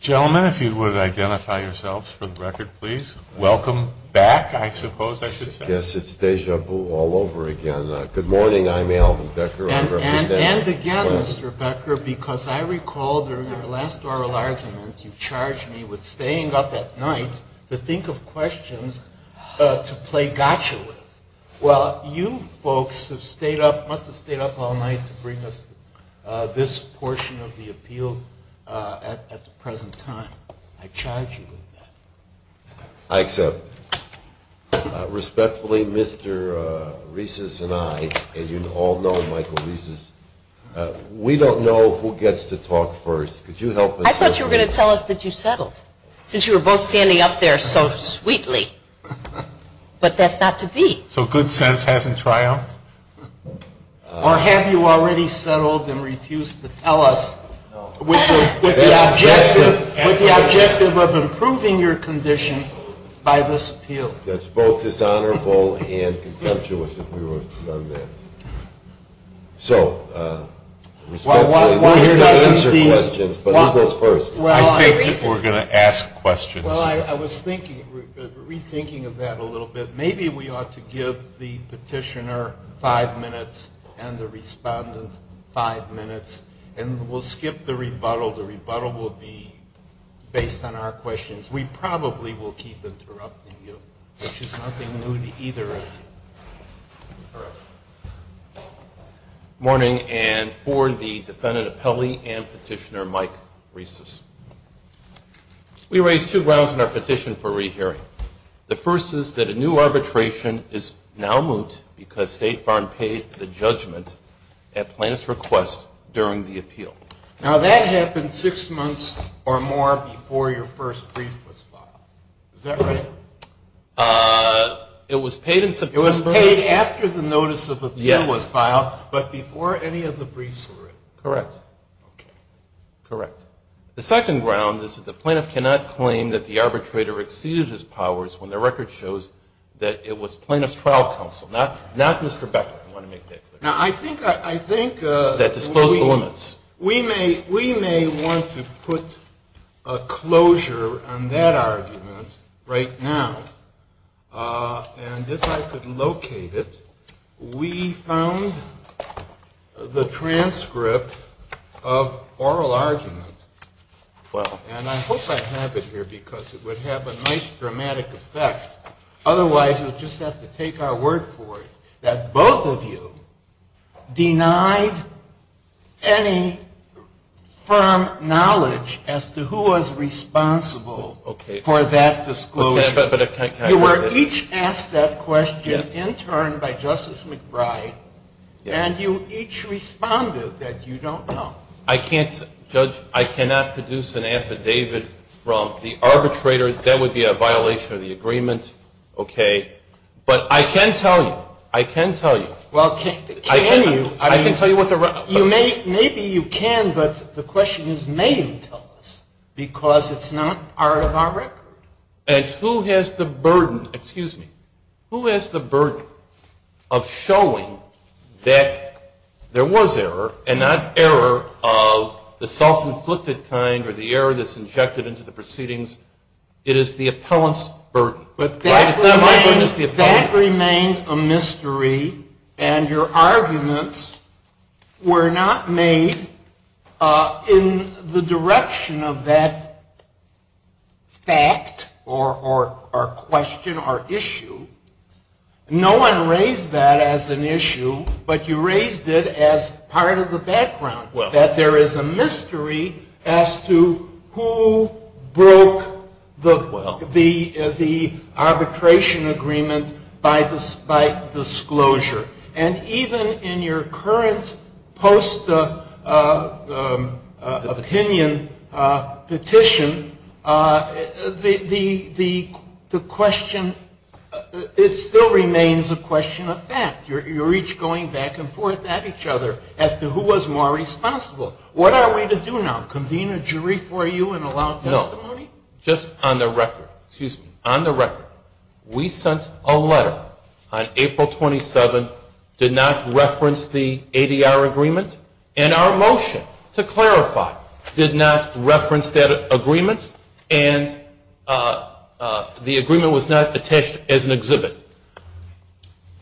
Gentlemen, if you would identify yourselves for the record, please. Welcome back, I suppose, I should say. Yes, it's déjà vu all over again. Good morning. I'm Alvin Becker. And again, Mr. Becker, because I recall during your last oral argument you charged me with staying up at night to think of questions to play gotcha with. Well, you folks must have stayed up all night to bring us this portion of the appeal at the present time. I charge you with that. I accept. Respectfully, Mr. Reeses and I, and you all know Michael Reeses, we don't know who gets to talk first. Could you help us? You didn't tell us that you settled, since you were both standing up there so sweetly. But that's not to be. So good sense hasn't triumphed? Or have you already settled and refused to tell us with the objective of improving your condition by this appeal? That's both dishonorable and contemptuous if we were to have done that. So, respectfully, we've got to answer questions, but who goes first? I think we're going to ask questions. Well, I was rethinking of that a little bit. Maybe we ought to give the petitioner five minutes and the respondent five minutes, and we'll skip the rebuttal. The rebuttal will be based on our questions. We probably will keep interrupting you, which is nothing new to either of you. Morning, and for the defendant appellee and petitioner, Mike Reeses. We raise two grounds in our petition for rehearing. The first is that a new arbitration is now moot because State Farm paid the judgment at Plaintiff's request during the appeal. Now, that happened six months or more before your first brief was filed. Is that right? It was paid in September. It was paid after the notice of appeal was filed, but before any of the briefs were written. Correct. Okay. Correct. The second ground is that the plaintiff cannot claim that the arbitrator exceeded his powers when the record shows that it was Plaintiff's trial counsel, not Mr. Becker. I want to make that clear. Now, I think... That disclosed the limits. We may want to put a closure on that argument right now, and if I could locate it. We found the transcript of oral argument, and I hope I have it here because it would have a nice dramatic effect. Otherwise, we'll just have to take our word for it that both of you denied any firm knowledge as to who was responsible for that disclosure. You were each asked that question in turn by Justice McBride, and you each responded that you don't know. Judge, I cannot produce an affidavit from the arbitrator. That would be a violation of the agreement, okay? But I can tell you. I can tell you. Well, can you? I can tell you what the... Maybe you can, but the question is, may you tell us? Because it's not part of our record. And who has the burden, excuse me, who has the burden of showing that there was error and not error of the self-inflicted kind or the error that's injected into the proceedings? It is the appellant's burden. That remained a mystery, and your arguments were not made in the direction of that fact or question or issue. No one raised that as an issue, but you raised it as part of the background, that there is a mystery as to who broke the... arbitration agreement by disclosure. And even in your current post-opinion petition, the question, it still remains a question of fact. You're each going back and forth at each other as to who was more responsible. What are we to do now, convene a jury for you and allow testimony? Just on the record, excuse me, on the record, we sent a letter on April 27th, did not reference the ADR agreement. And our motion, to clarify, did not reference that agreement, and the agreement was not attached as an exhibit.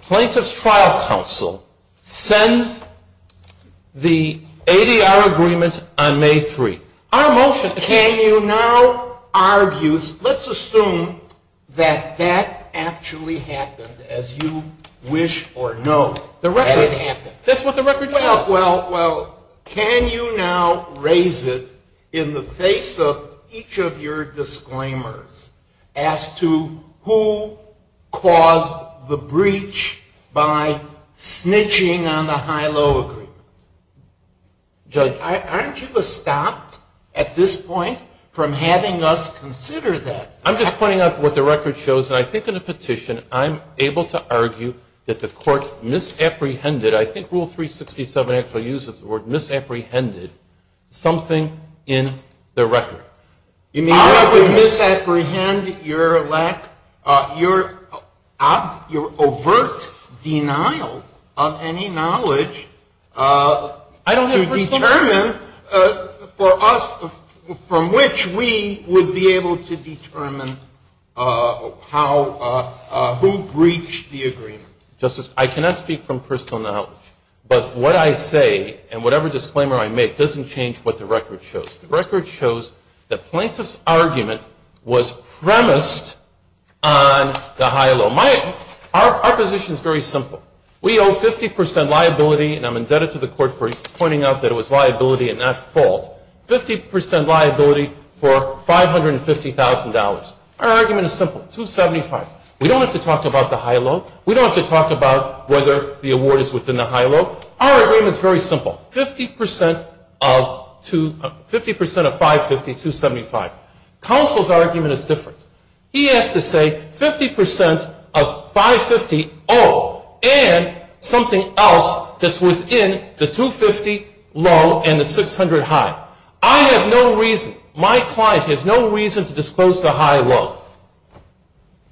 Plaintiff's trial counsel sends the ADR agreement on May 3rd. Our motion... Can you now argue, let's assume that that actually happened as you wish or know that it happened. That's what the record says. Well, can you now raise it in the face of each of your disclaimers as to who caused the breach by snitching on the high-low agreement? Judge, aren't you stopped at this point from having us consider that? I'm just pointing out what the record shows, and I think in the petition I'm able to argue that the court misapprehended, I think Rule 367 actually uses the word misapprehended, something in the record. I would misapprehend your overt denial of any knowledge to determine for us from which we would be able to determine who breached the agreement. Justice, I cannot speak from personal knowledge, but what I say and whatever disclaimer I make doesn't change what the record shows. The record shows the plaintiff's argument was premised on the high-low. Our position is very simple. We owe 50% liability, and I'm indebted to the court for pointing out that it was liability and not fault, 50% liability for $550,000. Our argument is simple, $275,000. We don't have to talk about the high-low. We don't have to talk about whether the award is within the high-low. Our argument is very simple, 50% of $550,000, $275,000. Counsel's argument is different. He has to say 50% of $550,000 owed and something else that's within the $250,000 low and the $600,000 high. I have no reason, my client has no reason to disclose the high-low.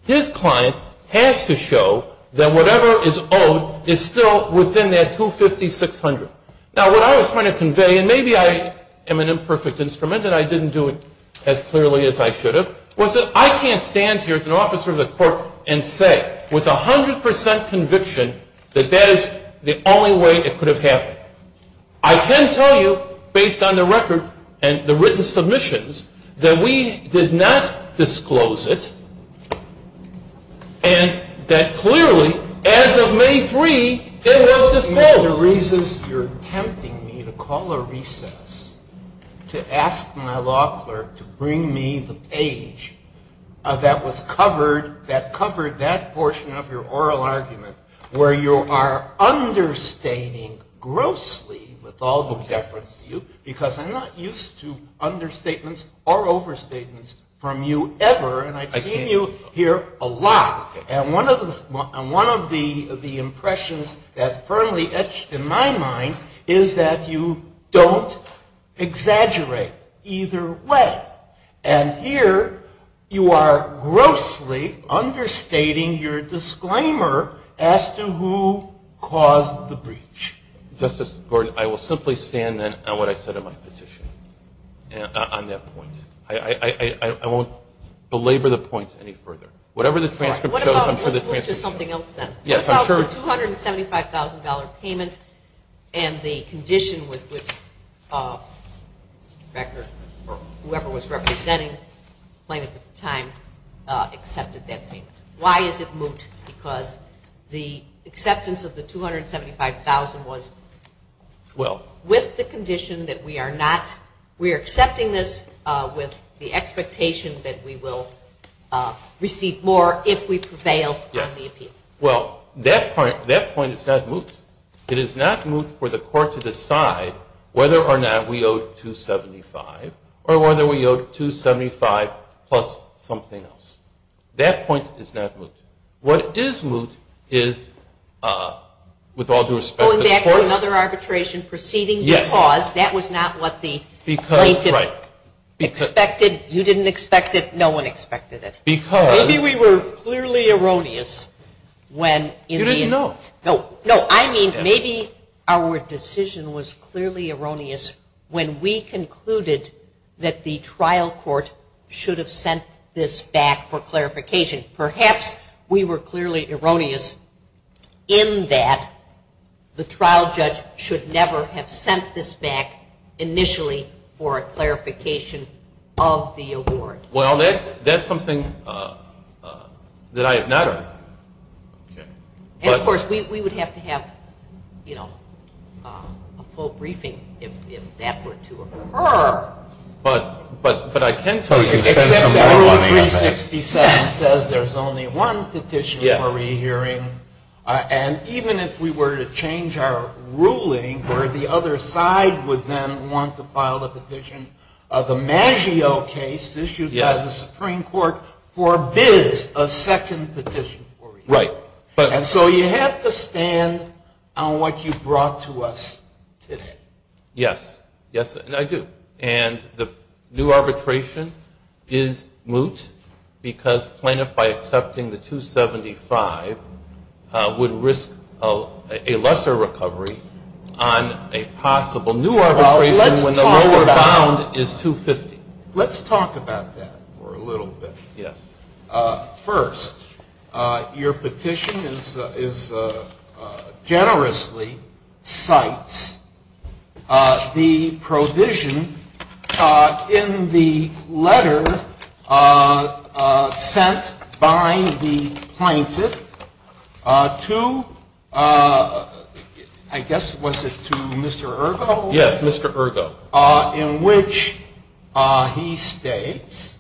His client has to show that whatever is owed is still within that $250,000, $600,000. Now, what I was trying to convey, and maybe I am an imperfect instrument and I didn't do it as clearly as I should have, was that I can't stand here as an officer of the court and say with 100% conviction that that is the only way it could have happened. I can tell you, based on the record and the written submissions, that we did not disclose it and that clearly, as of May 3, it was disclosed. You're tempting me to call a recess to ask my law clerk to bring me the page that was covered, that covered that portion of your oral argument where you are understating grossly with all the deference to you because I'm not used to understatements or overstatements from you ever and I've seen you here a lot. And one of the impressions that's firmly etched in my mind is that you don't exaggerate either way. And here you are grossly understating your disclaimer as to who caused the breach. Justice Gordon, I will simply stand then on what I said in my petition on that point. I won't belabor the point any further. Whatever the transcript shows, I'm sure the transcript shows. What about the $275,000 payment and the condition with which Mr. Becker or whoever was representing Plaintiff at the time accepted that payment? Why is it moot? Because the acceptance of the $275,000 was with the condition that we are not, we are accepting this with the expectation that we will receive more if we prevail on the appeal. Yes. Well, that point is not moot. It is not moot for the court to decide whether or not we owe $275,000 or whether we owe $275,000 plus something else. That point is not moot. What is moot is, with all due respect, the courts Going back to another arbitration proceeding Yes. Because that was not what the plaintiff expected. You didn't expect it. No one expected it. Because Maybe we were clearly erroneous when You didn't know. No, I mean maybe our decision was clearly erroneous when we concluded that the trial court should have sent this back for clarification. Perhaps we were clearly erroneous in that the trial judge should never have sent this back initially for a clarification of the award. Well, that is something that I have not heard. And, of course, we would have to have a full briefing if that were to occur. But I can tell you Except that Rule 367 says there is only one petition for re-hearing. And even if we were to change our ruling where the other side would then want to file a petition, the Maggio case issued by the Supreme Court forbids a second petition for re-hearing. Right. And so you have to stand on what you brought to us today. Yes. Yes, I do. And the new arbitration is moot because plaintiff by accepting the 275 would risk a lesser recovery on a possible new arbitration when the lower bound is 250. Let's talk about that for a little bit. Yes. First, your petition generously cites the provision in the letter sent by the plaintiff to, I guess, was it to Mr. Ergo? Yes, Mr. Ergo. In which he states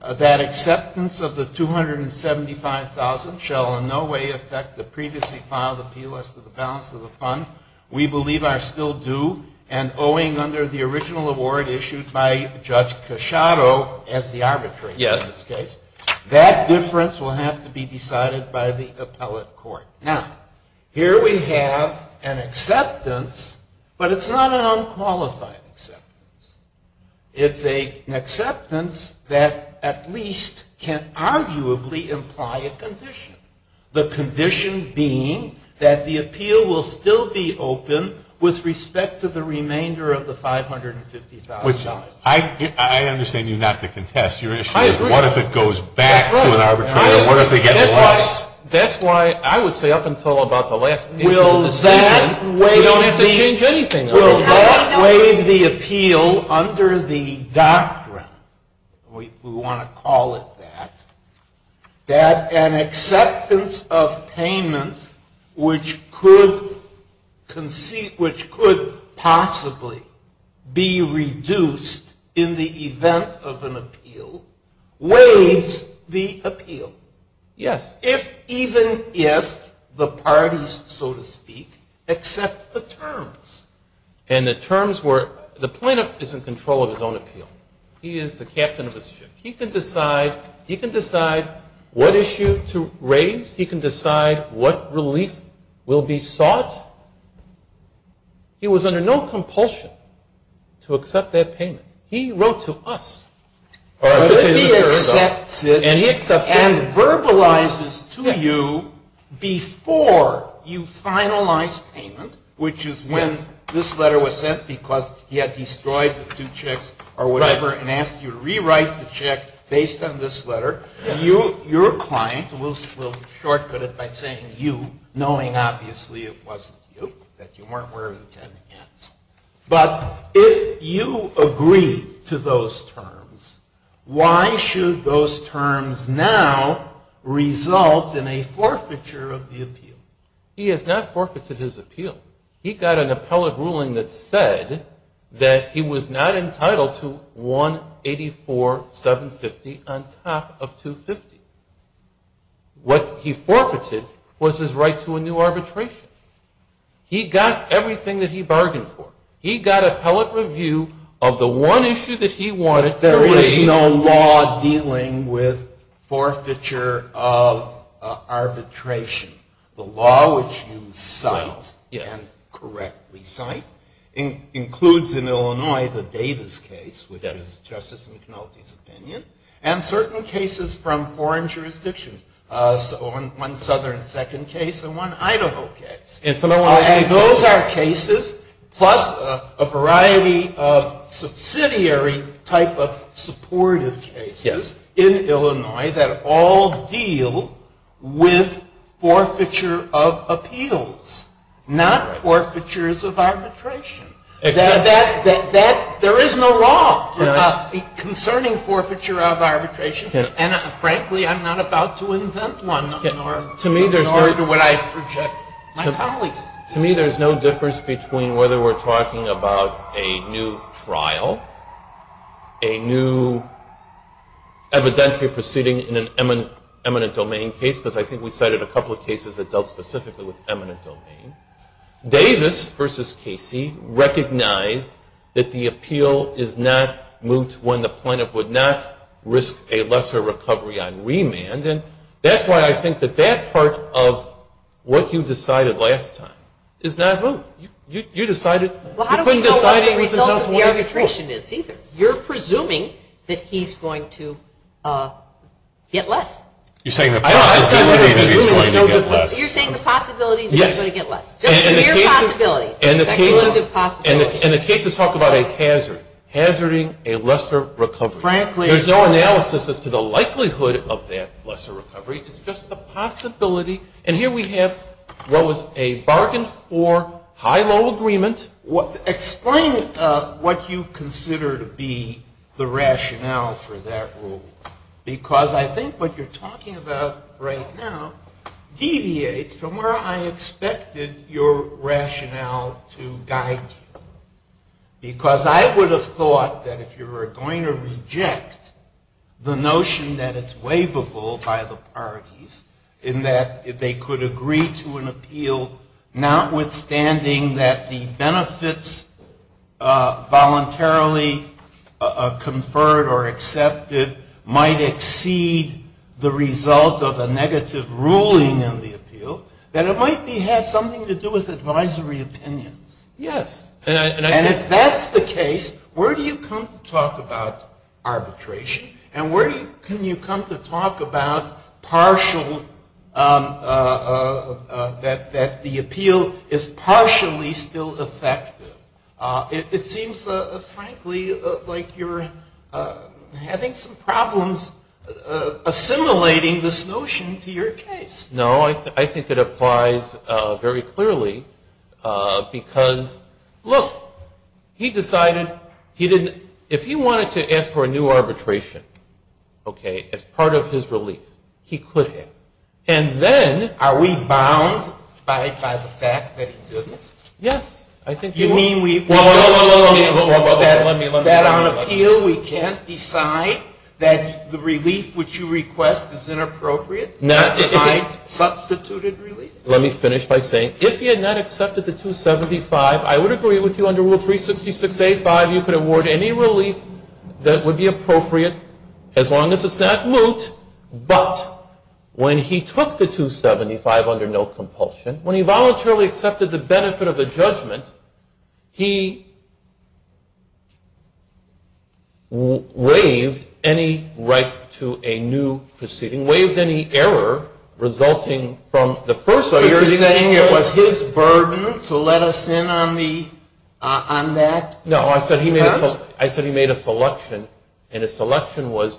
that acceptance of the 275,000 shall in no way affect the previously filed appeal as to the balance of the fund we believe are still due and owing under the original award issued by Judge Casciato as the arbitrator in this case. Yes. That difference will have to be decided by the appellate court. Now, here we have an acceptance, but it's not an unqualified acceptance. It's an acceptance that at least can arguably imply a condition. The condition being that the appeal will still be open with respect to the remainder of the $550,000. I understand you not to contest. Your issue is what if it goes back to an arbitrator? What if they get lost? That's why I would say up until about the last decision, we don't have to change anything. Will that waive the appeal under the doctrine, we want to call it that, that an acceptance of payment which could possibly be reduced in the event of an appeal waives the appeal? Yes. Even if the parties, so to speak, accept the terms. And the terms were the plaintiff is in control of his own appeal. He is the captain of his ship. He can decide what issue to raise. He can decide what relief will be sought. He was under no compulsion to accept that payment. He wrote to us. But if he accepts it and verbalizes to you before you finalize payment, which is when this letter was sent because he had destroyed the two checks or whatever and asked you to rewrite the check based on this letter, your client will shortcut it by saying you, knowing obviously it wasn't you, that you weren't wearing 10 hands. But if you agreed to those terms, why should those terms now result in a forfeiture of the appeal? He has not forfeited his appeal. He got an appellate ruling that said that he was not entitled to 184,750 on top of 250. What he forfeited was his right to a new arbitration. He got everything that he bargained for. He got appellate review of the one issue that he wanted. There is no law dealing with forfeiture of arbitration. The law which you cite and correctly cite includes in Illinois the Davis case, which is Justice McNulty's opinion, and certain cases from foreign jurisdictions, one southern second case and one Idaho case. And those are cases plus a variety of subsidiary type of supportive cases in Illinois that all deal with forfeiture of appeals, not forfeitures of arbitration. There is no law concerning forfeiture of arbitration. And frankly, I'm not about to invent one, nor would I project my colleagues. To me, there's no difference between whether we're talking about a new trial, a new evidentiary proceeding in an eminent domain case, because I think we cited a couple of cases that dealt specifically with eminent domain. Davis versus Casey recognized that the appeal is not moot when the plaintiff would not risk a lesser recovery on remand. And that's why I think that that part of what you decided last time is not moot. You decided you couldn't decide what the result of the arbitration is either. You're presuming that he's going to get less. You're saying the possibility that he's going to get less. And the cases talk about a hazard, hazarding a lesser recovery. There's no analysis as to the likelihood of that lesser recovery. It's just the possibility. And here we have what was a bargain for high-low agreement. Explain what you consider to be the rationale for that rule. Because I think what you're talking about right now deviates from where I expected your rationale to guide you. Because I would have thought that if you were going to reject the notion that it's waivable by the parties, in that they could agree to an appeal notwithstanding that the benefits voluntarily conferred or accepted might exceed the result of a negative ruling in the appeal, that it might have something to do with advisory opinions. Yes. And if that's the case, where do you come to talk about arbitration? And where can you come to talk about partial, that the appeal is partially still effective? It seems, frankly, like you're having some problems assimilating this notion to your case. No, I think it applies very clearly because, look, he decided he didn't, if he wanted to ask for a new arbitration, he couldn't, okay, as part of his relief. He couldn't. And then Are we bound by the fact that he didn't? Yes. You mean we Well, let me That on appeal we can't decide that the relief which you request is inappropriate? Not if I substituted relief? Let me finish by saying, if you had not accepted the 275, I would agree with you under Rule 366A.5, you could award any relief that would be appropriate as long as it's not moot. But when he took the 275 under no compulsion, when he voluntarily accepted the benefit of a judgment, he waived any right to a new proceeding, waived any error resulting from the first So you're saying it was his burden to let us in on that? No, I said he made a selection, and his selection was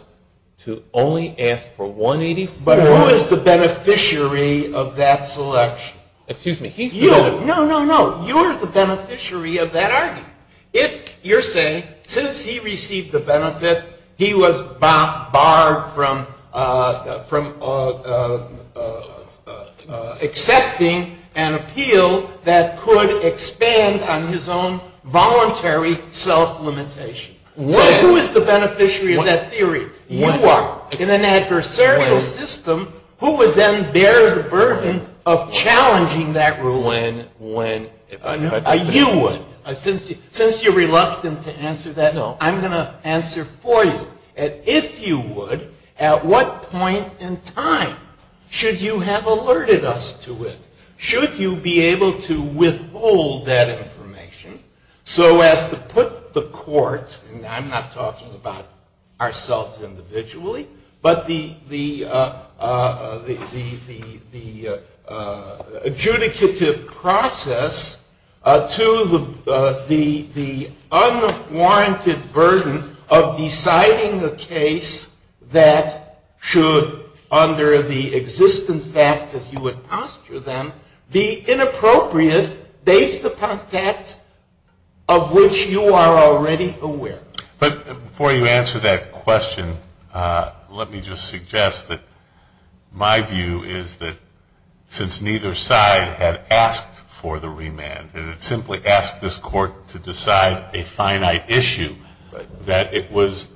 to only ask for 184 But who is the beneficiary of that selection? Excuse me, he's the beneficiary No, no, no, you're the beneficiary of that argument. You're saying since he received the benefit, he was barred from accepting an appeal that could expand on his own voluntary self-limitation. So who is the beneficiary of that theory? You are. In an adversarial system, who would then bear the burden of challenging that rule? When? You would. Since you're reluctant to answer that, I'm going to answer for you. And if you would, at what point in time should you have alerted us to it? Should you be able to withhold that information, so as to put the court, and I'm not talking about ourselves individually, but the adjudicative process to the unwarranted burden of deciding whether or not to accept an appeal. But before you answer that question, let me just suggest that my view is that since neither side had asked for the remand, that it simply asked this court to decide a finite issue, that it was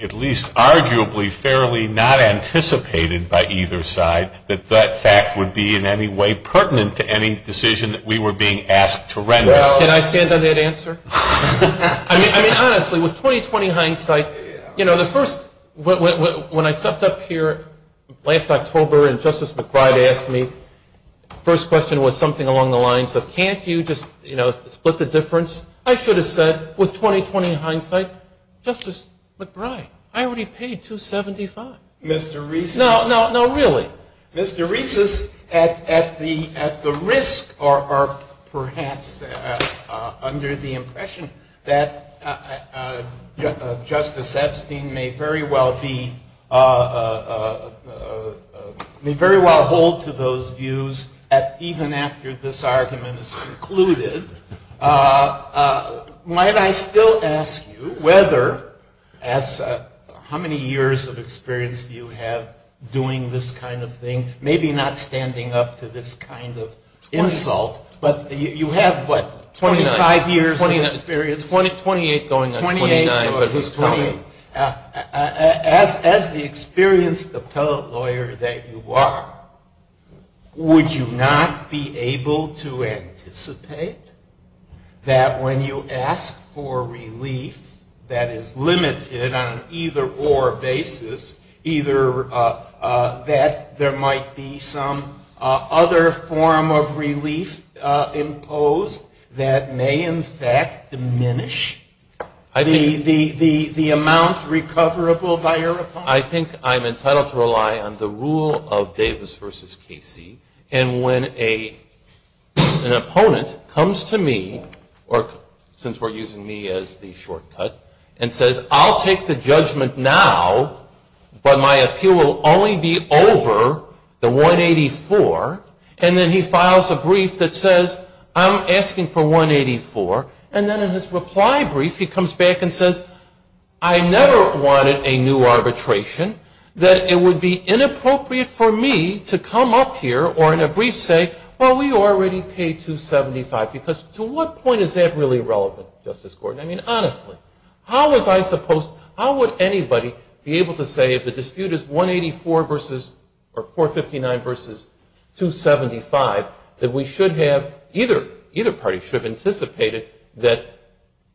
at least arguably fairly not anticipated by either side that that fact would be in any way pertinent to any decision that we were being asked to render. Can I stand on that answer? I mean, honestly, with 20-20 hindsight, you know, the first, when I stepped up here last October, and Justice McBride asked me, first question was something along the lines of, can't you just, you know, split the difference? I should have said, with 20-20 hindsight, Justice McBride, I already paid 275. Mr. Reeses. No, no, really. Mr. Reeses, at the risk, or perhaps under the impression that Justice Epstein may very well be, you know, may very well hold to those views even after this argument is concluded, might I still ask you whether, as how many years of experience do you have doing this kind of thing, maybe not standing up to this kind of insult, but you have, what, 25 years of experience? Twenty-eight going on 29. As the experienced appellate lawyer that you are, would you not be able to anticipate that when you ask for relief that is limited on an either-or basis, either that there might be some other form of relief imposed that may, in fact, diminish the likelihood that you would be able to get the amount recoverable by your opponent? I think I'm entitled to rely on the rule of Davis v. Casey, and when an opponent comes to me, or since we're using me as the shortcut, and says, I'll take the judgment now, but my appeal will only be over the 184, and then he files a brief that says, I'm asking for 184, and then in his reply brief he comes back and says, I never wanted a new arbitration, that it would be inappropriate for me to come up here or in a brief say, well, we already paid 275, because to what point is that really relevant, Justice Gordon? I mean, honestly, how was I supposed, how would anybody be able to say if the dispute is 184 versus, or 459 versus 275, that we should have, either party should have anticipated that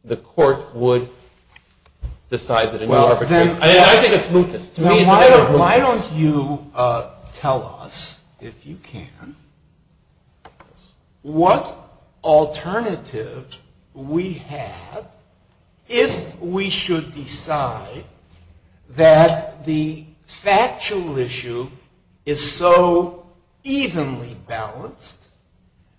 the court would decide that a new arbitration. I think it's mootness. Why don't you tell us, if you can, what alternative we have if we should decide that the factual issue is so evenly balanced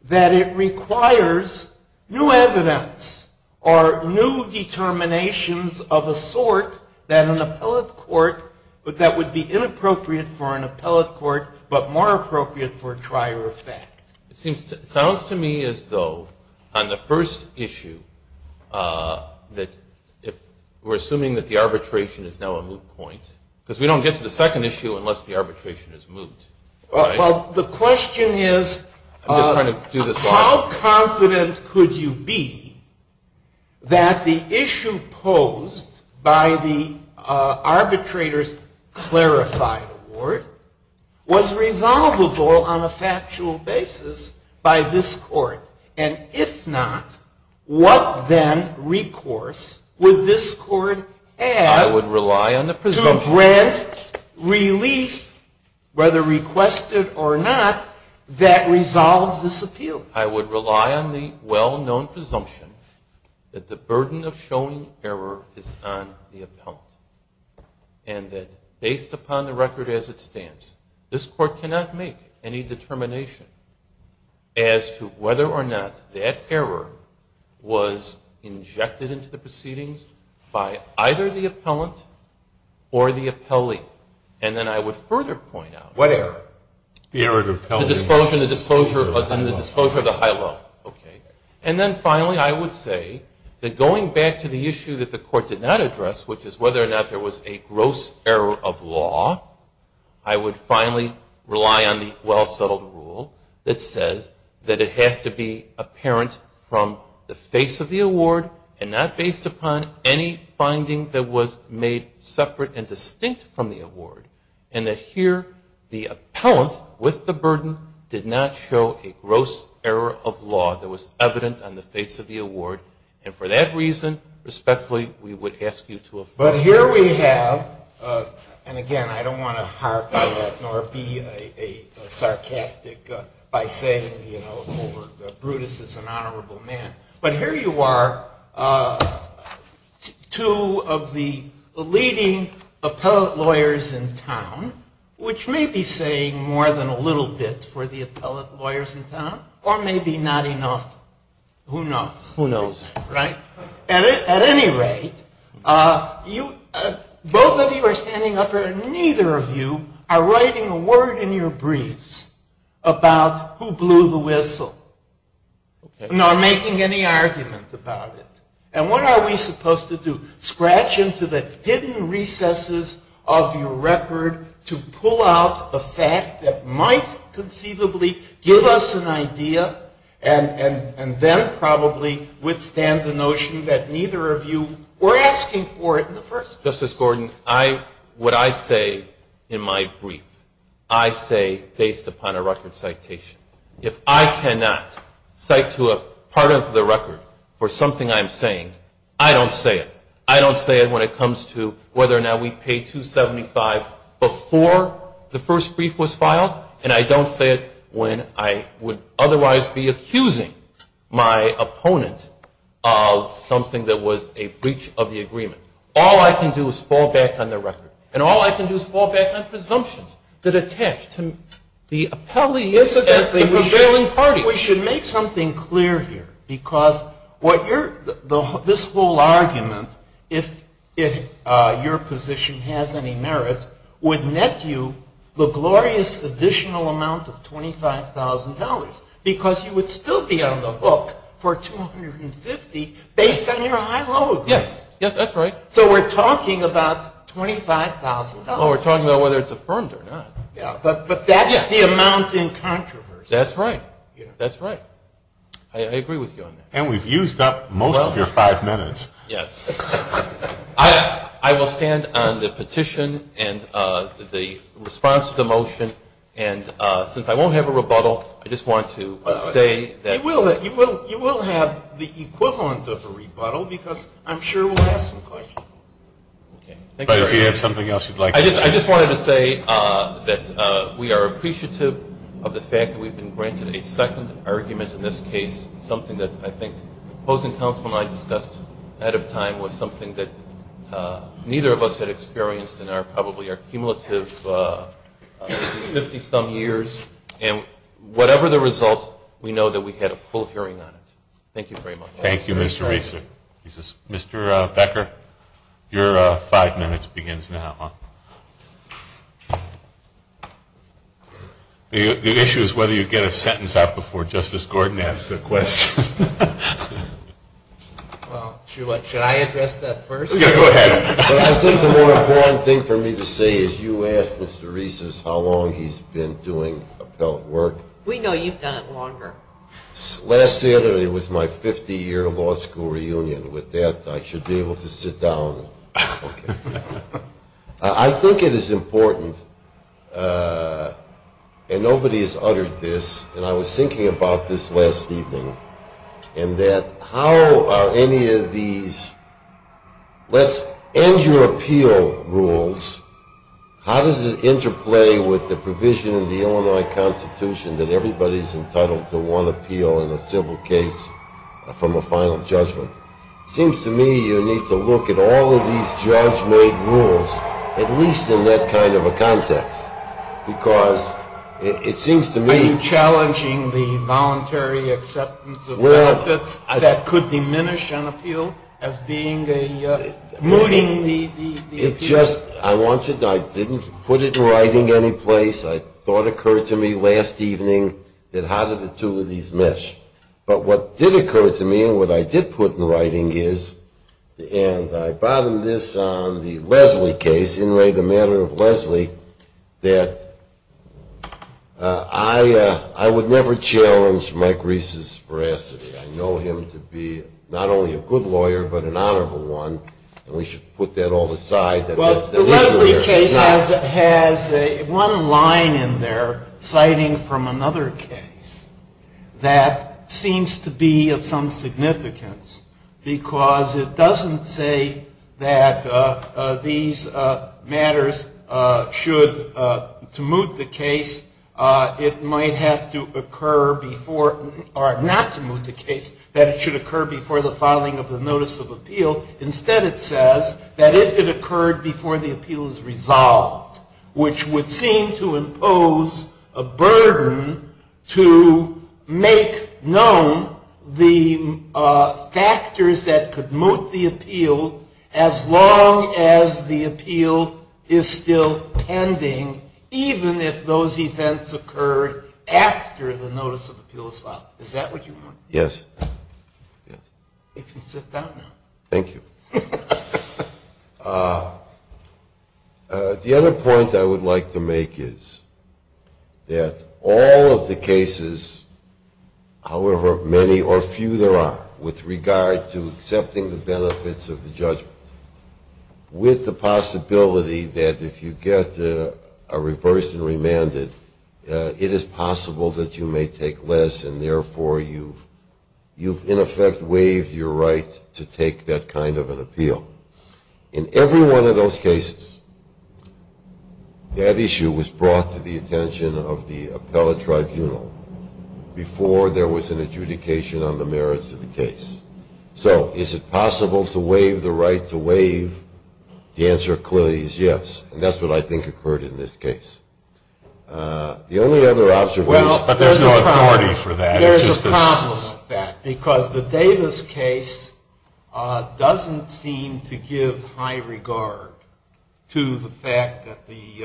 that it requires new evidence or new determinations of a sort that an appellate court, that would be inappropriate for an appellate court, but more appropriate for a trier effect? It sounds to me as though, on the first issue, that if we're assuming that the arbitration is now a moot point, because we don't get to the second issue, how confident could you be that the issue posed by the arbitrator's clarified award was resolvable on a factual basis by this court? And if not, what then recourse would this court have to grant relief, whether requested or not, that resolves this appeal? I would rely on the well-known presumption that the burden of showing error is on the appellant, and that based upon the record as it stands, this court cannot make any determination as to whether or not that error was injected into the proceedings by either the appellant or the appellee. And then I would further point out the disclosure of the high-low. And then finally, I would say that going back to the issue that the court did not address, which is whether or not there was a gross error of law, I would finally rely on the well-settled rule that says that it has to be apparent from the face of the award and not based upon any separate and distinct from the award, and that here the appellant, with the burden, did not show a gross error of law that was evident on the face of the award. And for that reason, respectfully, we would ask you to affirm. But here we have, and again, I don't want to harp on that, nor be sarcastic by saying, you know, Brutus is an honorable man. But here you are, two of the leading appellate lawyers in town, which may be saying more than a little bit for the appellate lawyers in town, or maybe not enough. Who knows? At any rate, both of you are standing up here, and neither of you are writing a word in your briefs about who blew the whistle, nor making any argument about it. And what are we supposed to do? Scratch into the hidden recesses of your record to pull out a fact that might conceivably give us an idea, and then probably withstand the notion that neither of you were asking for it in the first place. Justice Gordon, I, what I say in my brief, I say based upon a record citation. If I cannot cite to a part of the record for something I'm saying, I'm not saying it. I don't say it when it comes to whether or not we paid $275 before the first brief was filed, and I don't say it when I would otherwise be accusing my opponent of something that was a breach of the agreement. All I can do is fall back on the record. And all I can do is fall back on presumptions that attach to the appellee as the prevailing party. And we should make something clear here, because this whole argument, if your position has any merit, would net you the glorious additional amount of $25,000, because you would still be on the book for $250 based on your high-low agreement. Yes. Yes, that's right. So we're talking about $25,000. Well, we're talking about whether it's affirmed or not. Yeah, but that's the amount in controversy. That's right. That's right. I agree with you on that. And we've used up most of your five minutes. Yes. I will stand on the petition and the response to the motion, and since I won't have a rebuttal, I just want to say that... You will have the equivalent of a rebuttal, because I'm sure we'll have some questions. But if you have something else you'd like to say... I just wanted to say that we are appreciative of the fact that we've been granted a second argument in this case, something that I think the opposing counsel and I discussed ahead of time was something that neither of us had experienced in probably our cumulative 50-some years. And whatever the result, we know that we had a full hearing on it. Thank you very much. Thank you, Mr. Reeser. Mr. Becker, your five minutes begins now. The issue is whether you get a sentence out before Justice Gordon asks a question. Well, should I address that first? I think the more important thing for me to say is you asked Mr. Reeser how long he's been doing appellate work. We know you've done it longer. Last Saturday was my 50-year law school reunion. With that, I should be able to sit down. I think it is important, and nobody has uttered this, and I was thinking about this last evening, in that how are any of these... How does it interplay with the provision in the Illinois Constitution that everybody is entitled to one appeal in a civil case from a final judgment? It seems to me you need to look at all of these judge-made rules, at least in that kind of a context, because it seems to me... Are you challenging the voluntary acceptance of benefits that could diminish an appeal as being a... I didn't put it in writing any place. I thought it occurred to me last evening that how did the two of these mesh. But what did occur to me, and what I did put in writing is, and I bottomed this on the Leslie case, in lay the matter of Leslie, that I would never challenge Mike Reeser's veracity. I know him to be not only a good lawyer, but an honorable one, and we should put that all aside. Well, the Leslie case has one line in there citing from another case that seems to be of some significance, because it doesn't say that these matters should, to moot the case, it might have to occur before, or not to moot the case, that it should occur before the filing of the notice of appeal. Instead it says that if it occurred before the appeal is resolved, which would seem to impose a burden to make known the factors that could moot the appeal as long as the appeal is still pending, even if those events occurred after the notice of appeal is filed. Is that what you want? Yes. You can sit down now. Thank you. The other point I would like to make is that all of the cases, however many or few there are, with regard to accepting the benefits of the judgment, with the possibility that if you get a reverse and remanded, it is possible that you may take less, and therefore you've in effect waived your right to take that kind of an appeal. In every one of those cases, that issue was brought to the attention of the appellate tribunal before there was an adjudication on the merits of the case. So is it possible to waive the right to waive? The answer clearly is yes. And that's what I think occurred in this case. Well, but there's no authority for that. There's a problem with that because the Davis case doesn't seem to give high regard to the fact that the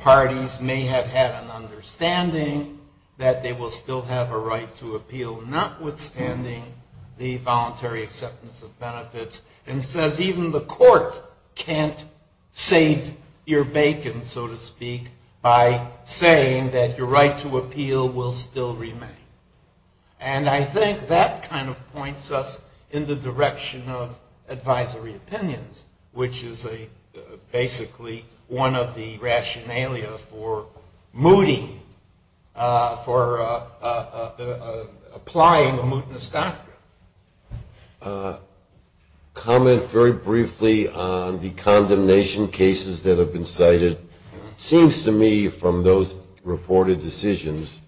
parties may have had an understanding that they will still have a right to appeal, notwithstanding the voluntary acceptance of benefits, and says even the court can't save your bacon, so to speak, by saying that your right to appeal will still remain. And I think that kind of points us in the direction of advisory opinions, which is basically one of the rationalia for mooting, for applying a mootness doctrine. Comment very briefly on the condemnation cases that have been cited. It seems to me from those reported decisions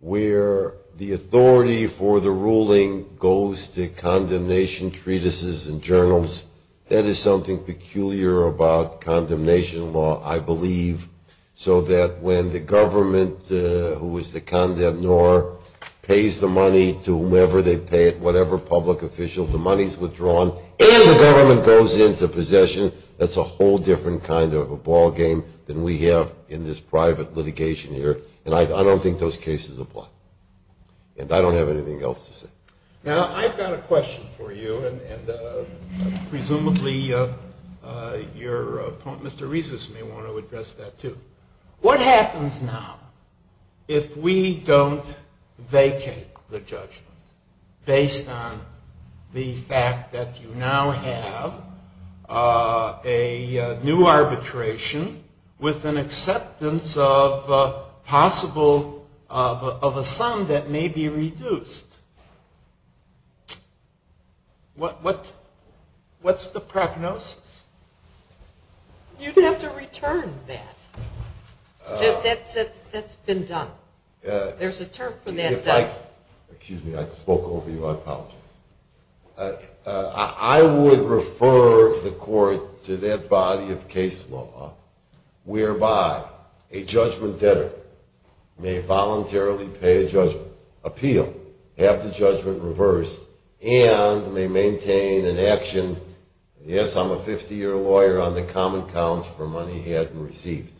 where the authority for the ruling goes to condemnation treatises and journals, that is something peculiar about condemnation law, I believe, so that when the government, who is the condemnor, pays the money to whomever they pay it, whatever public officials, the money is withdrawn, and the government goes into possession, that's a whole different kind of a ballgame than we have in this private litigation here. And I don't think those cases apply. And I don't have anything else to say. Now, I've got a question for you, and presumably your poet Mr. Resus may want to address that, too. What happens now if we don't vacate the judgment based on the fact that you now have a new arbitration with an acceptance of a sum that may be reduced? What's the prognosis? You'd have to return that. That's been done. There's a term for that. Excuse me, I spoke over you. I apologize. I would refer the court to that body of case law whereby a judgment debtor may voluntarily pay a judgment, appeal, have the judgment reversed, and may maintain an action, yes, I'm a 50-year lawyer on the common counts for money he hadn't received.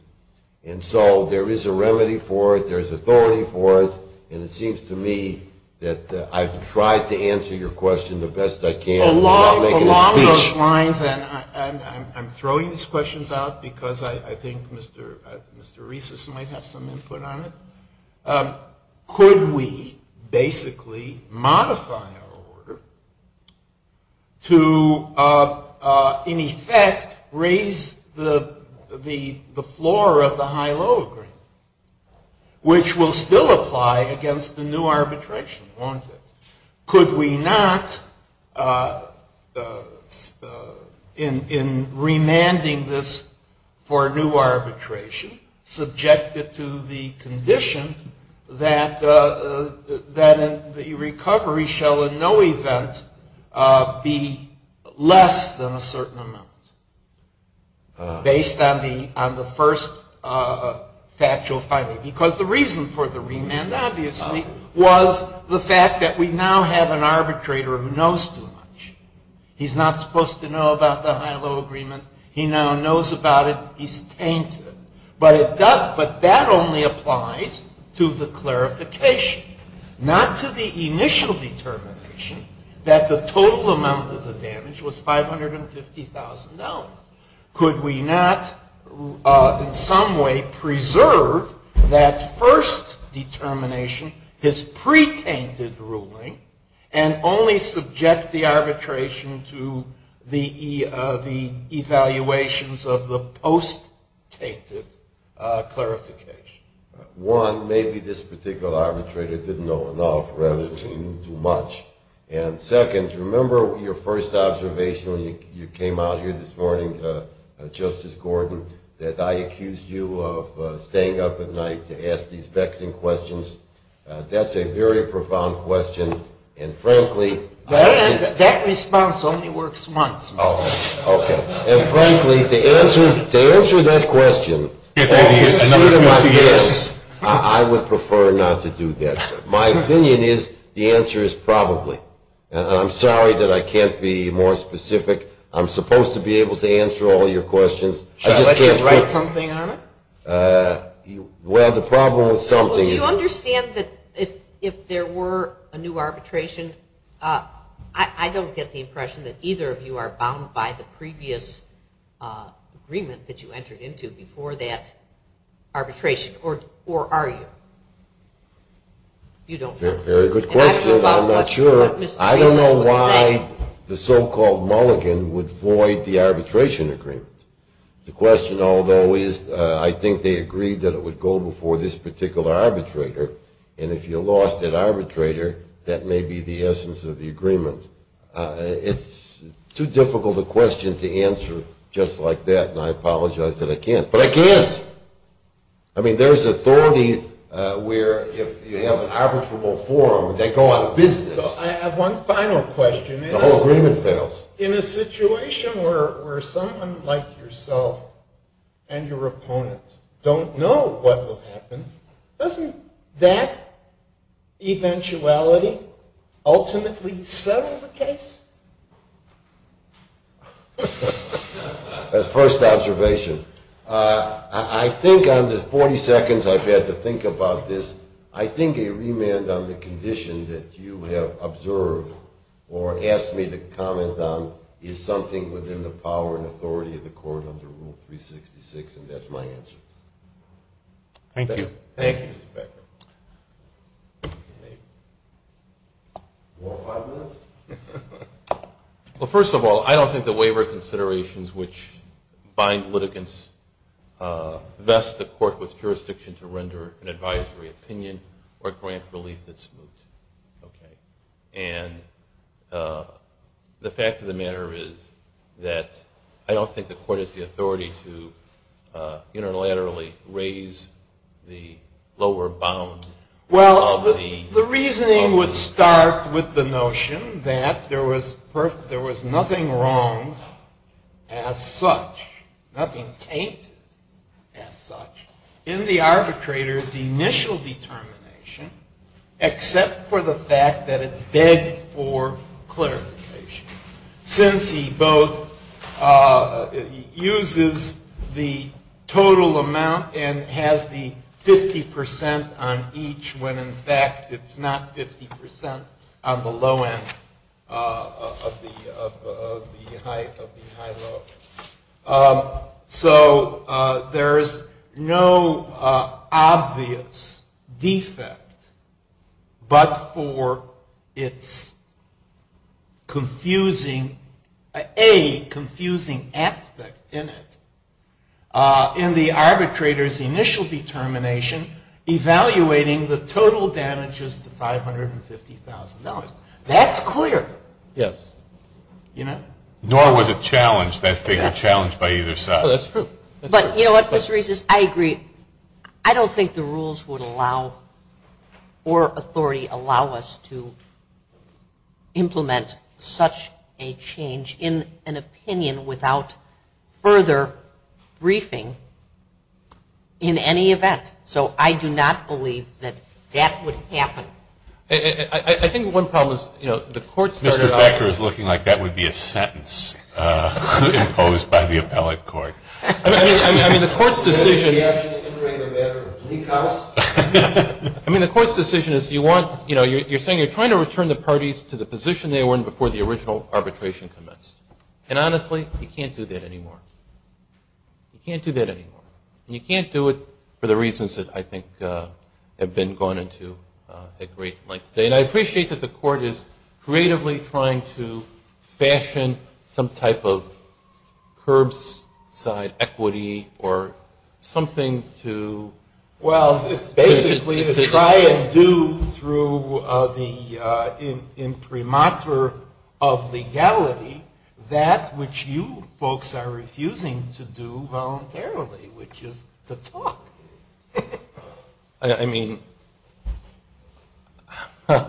And so there is a remedy for it. There's authority for it. And it seems to me that I've tried to answer your question the best I can. Along those lines, and I'm throwing these questions out because I think Mr. Resus might have some input on it, could we basically modify our order to in effect raise the floor of the high-low agreement, which will still apply against the new arbitration, won't it? In remanding this for new arbitration, subjected to the condition that the recovery shall in no event be less than a certain amount, based on the first factual finding? Because the reason for the remand, obviously, was the fact that we now have an arbitrator who knows too much. He's not supposed to know about the high-low agreement. He now knows about it. He's tainted. But that only applies to the clarification, not to the initial determination that the total amount of the damage was $550,000. Could we not in some way preserve that first determination, his pre-tainted ruling, and only subject the arbitration to the evaluations of the post-tainted clarification? One, maybe this particular arbitrator didn't know enough rather than he knew too much. And second, remember your first observation when you came out here this morning, Justice Gordon, that I accused you of staying up at night to ask these vexing questions? That's a very profound question, and frankly... That response only works once. And frankly, to answer that question, I would prefer not to do that. My opinion is the answer is probably. And I'm sorry that I can't be more specific. I'm supposed to be able to answer all your questions. Should I let you write something on it? Well, the problem with something is... Well, do you understand that if there were a new arbitration, I don't get the impression that either of you are bound by the previous agreement that you entered into before that arbitration, or are you? Very good question. I'm not sure. I don't know why the so-called mulligan would void the arbitration agreement. The question, although, is I think they agreed that it would go before this particular arbitrator, and if you lost that arbitrator, that may be the essence of the agreement. It's too difficult a question to answer just like that, and I apologize that I can't. But I can't! I mean, there's authority where if you have an arbitrable forum, they go out of business. I have one final question. The whole agreement fails. In a situation where someone like yourself and your opponent don't know what will happen, First observation. I think on the 40 seconds I've had to think about this, I think a remand on the condition that you have observed or asked me to comment on is something within the power and authority of the court under Rule 366, and that's my answer. Thank you. Thank you, Mr. Becker. Maybe four or five minutes? Well, first of all, I don't think the waiver considerations which bind litigants vest the court with jurisdiction to render an advisory opinion or grant relief that's moot. And the fact of the matter is that I don't think the court has the authority to unilaterally raise the lower bound Well, the reasoning would start with the notion that there was nothing wrong as such, nothing taint as such, in the arbitrator's initial determination except for the fact that it begged for clarification. Since he both uses the total amount and has the 50% on each when in fact it's not 50% on the low end of the high low. So there's no obvious defect but for its confusing, a confusing aspect in it in the arbitrator's initial determination evaluating the total damages to $550,000. That's clear. Yes. You know? Nor was it challenged, that figure challenged by either side. Oh, that's true. But you know what, Mr. Reese, I agree. I don't think the rules would allow or authority allow us to implement such a change in an opinion without further briefing in any event. So I do not believe that that would happen. I think one problem is, you know, the court started off Mr. Becker is looking like that would be a sentence imposed by the appellate court. I mean, the court's decision Is there any option of entering the matter of plea cause? I mean, the court's decision is you want, you know, you're saying you're trying to return the parties to the position they were in before the original arbitration commenced. And honestly, you can't do that anymore. You can't do that anymore. And you can't do it for the reasons that I think have been gone into at great length today. And I appreciate that the court is creatively trying to fashion some type of curbside equity or something to Well, it's basically to try and do through the imprimatur of legality that which you folks are refusing to do voluntarily, which is to talk. I mean, Mind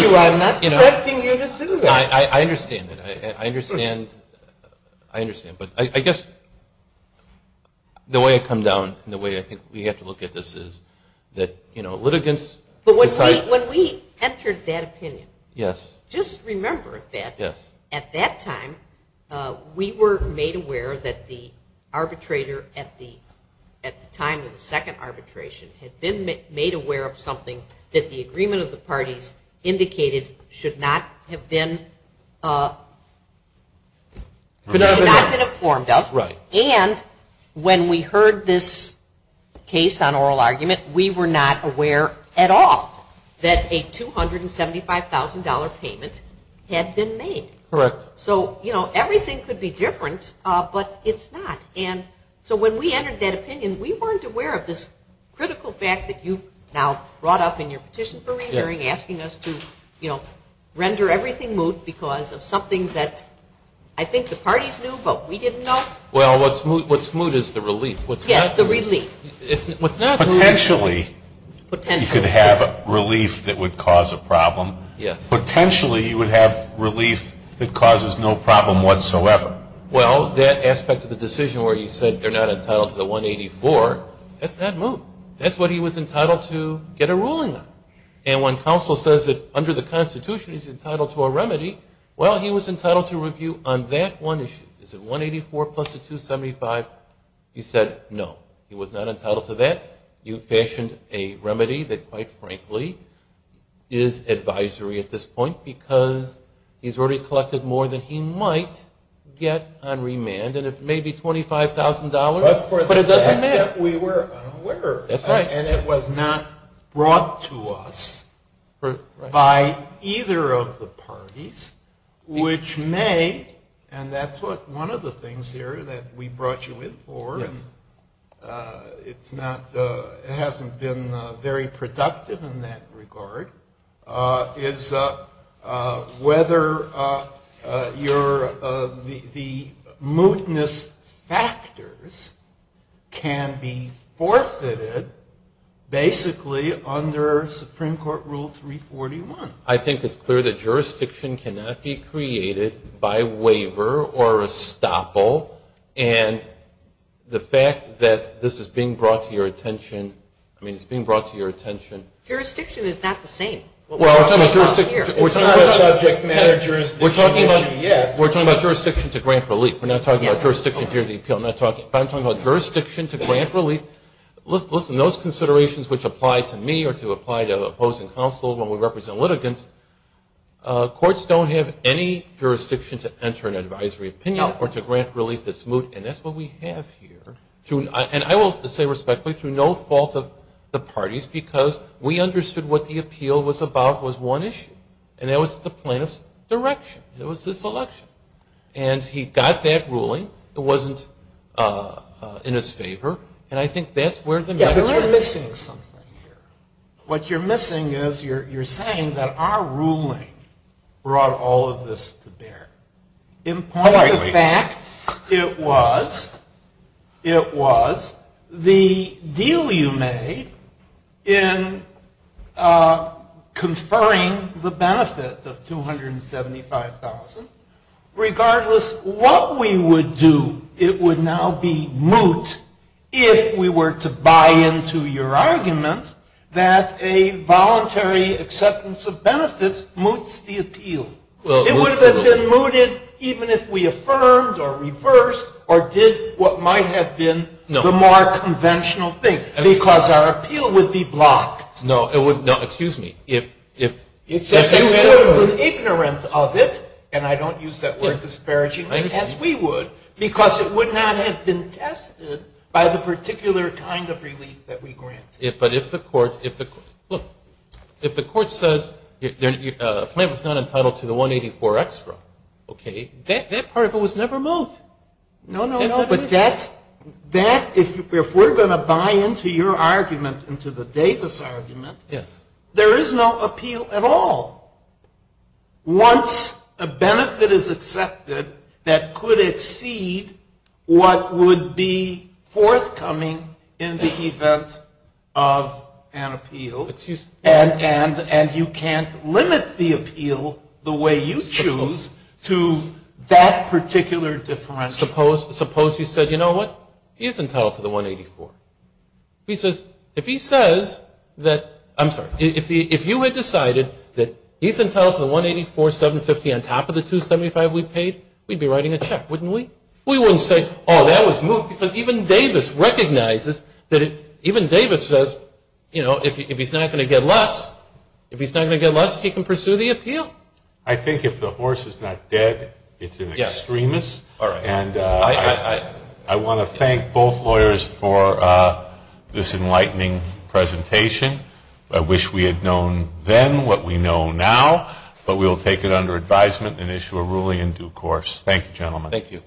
you, I'm not directing you to do that. I understand that. I understand. I understand. But I guess the way I come down and the way I think we have to look at this is that, you know, litigants But when we entered that opinion, just remember that at that time, we were made aware that the arbitrator at the time of the second arbitration had been made aware of something that the agreement of the parties indicated should not have been informed of. Right. And when we heard this case on oral argument, we were not aware at all that a $275,000 payment had been made. Correct. So, you know, everything could be different, but it's not. And so when we entered that opinion, we weren't aware of this critical fact that you've now brought up in your petition for re-hearing, asking us to, you know, render everything moot because of something that I think the parties knew but we didn't know. Well, what's moot is the relief. Yes, the relief. Potentially, you could have relief that would cause a problem. Yes. Potentially, you would have relief that causes no problem whatsoever. Well, that aspect of the decision where you said they're not entitled to the $184,000, that's not moot. That's what he was entitled to get a ruling on. And when counsel says that under the Constitution, he's entitled to a remedy, well, he was entitled to review on that one issue. Is it $184,000 plus the $275,000? He said no. He was not entitled to that. You fashioned a remedy that, quite frankly, is advisory at this point because he's already collected more than he might get on remand. And it may be $25,000, but it doesn't matter. But for the fact that we were unaware. That's right. And it was not brought to us by either of the parties, which may, and that's one of the things here that we brought you in for, and it hasn't been very productive in that regard, is whether the mootness factors can be forfeited basically under Supreme Court Rule 341. I think it's clear that jurisdiction cannot be created by waiver or estoppel, and the fact that this is being brought to your attention, I mean, it's being brought to your attention. Jurisdiction is not the same. Well, we're talking about jurisdiction to grant relief. We're not talking about jurisdiction to hear the appeal. I'm talking about jurisdiction to grant relief. Listen, those considerations which apply to me or to apply to opposing counsel when we represent litigants, courts don't have any jurisdiction to enter an advisory opinion or to grant relief that's moot, and that's what we have here. And I will say respectfully, through no fault of the parties, because we understood what the appeal was about was one issue, and that was the plaintiff's direction. It was this election. And he got that ruling. It wasn't in his favor, and I think that's where the matter is. Yeah, but we're missing something here. What you're missing is you're saying that our ruling brought all of this to bear. In point of fact, it was the deal you made in conferring the benefit of $275,000. Regardless what we would do, it would now be moot if we were to buy into your argument that a voluntary acceptance of benefits moots the appeal. It would have been mooted even if we affirmed or reversed or did what might have been the more conventional thing, because our appeal would be blocked. No, it would not. Excuse me. If you were ignorant of it, and I don't use that word disparagingly, as we would, because it would not have been tested by the particular kind of relief that we granted. But if the court says a plaintiff is not entitled to the $184 extra, okay, that part of it was never moot. No, no, no. But that, if we're going to buy into your argument, into the Davis argument, there is no appeal at all. Once a benefit is accepted that could exceed what would be forthcoming in the event of an appeal, and you can't limit the appeal the way you choose to that particular differential. Suppose you said, you know what, he isn't entitled to the $184. He says, if he says that, I'm sorry, if you had decided that he's entitled to the $184,750 on top of the $275 we paid, we'd be writing a check, wouldn't we? We wouldn't say, oh, that was moot, because even Davis recognizes that it, even Davis says, you know, if he's not going to get less, if he's not going to get less, he can pursue the appeal. I think if the horse is not dead, it's an extremist. I want to thank both lawyers for this enlightening presentation. I wish we had known then what we know now, but we will take it under advisement and issue a ruling in due course. Thank you, gentlemen. Thank you.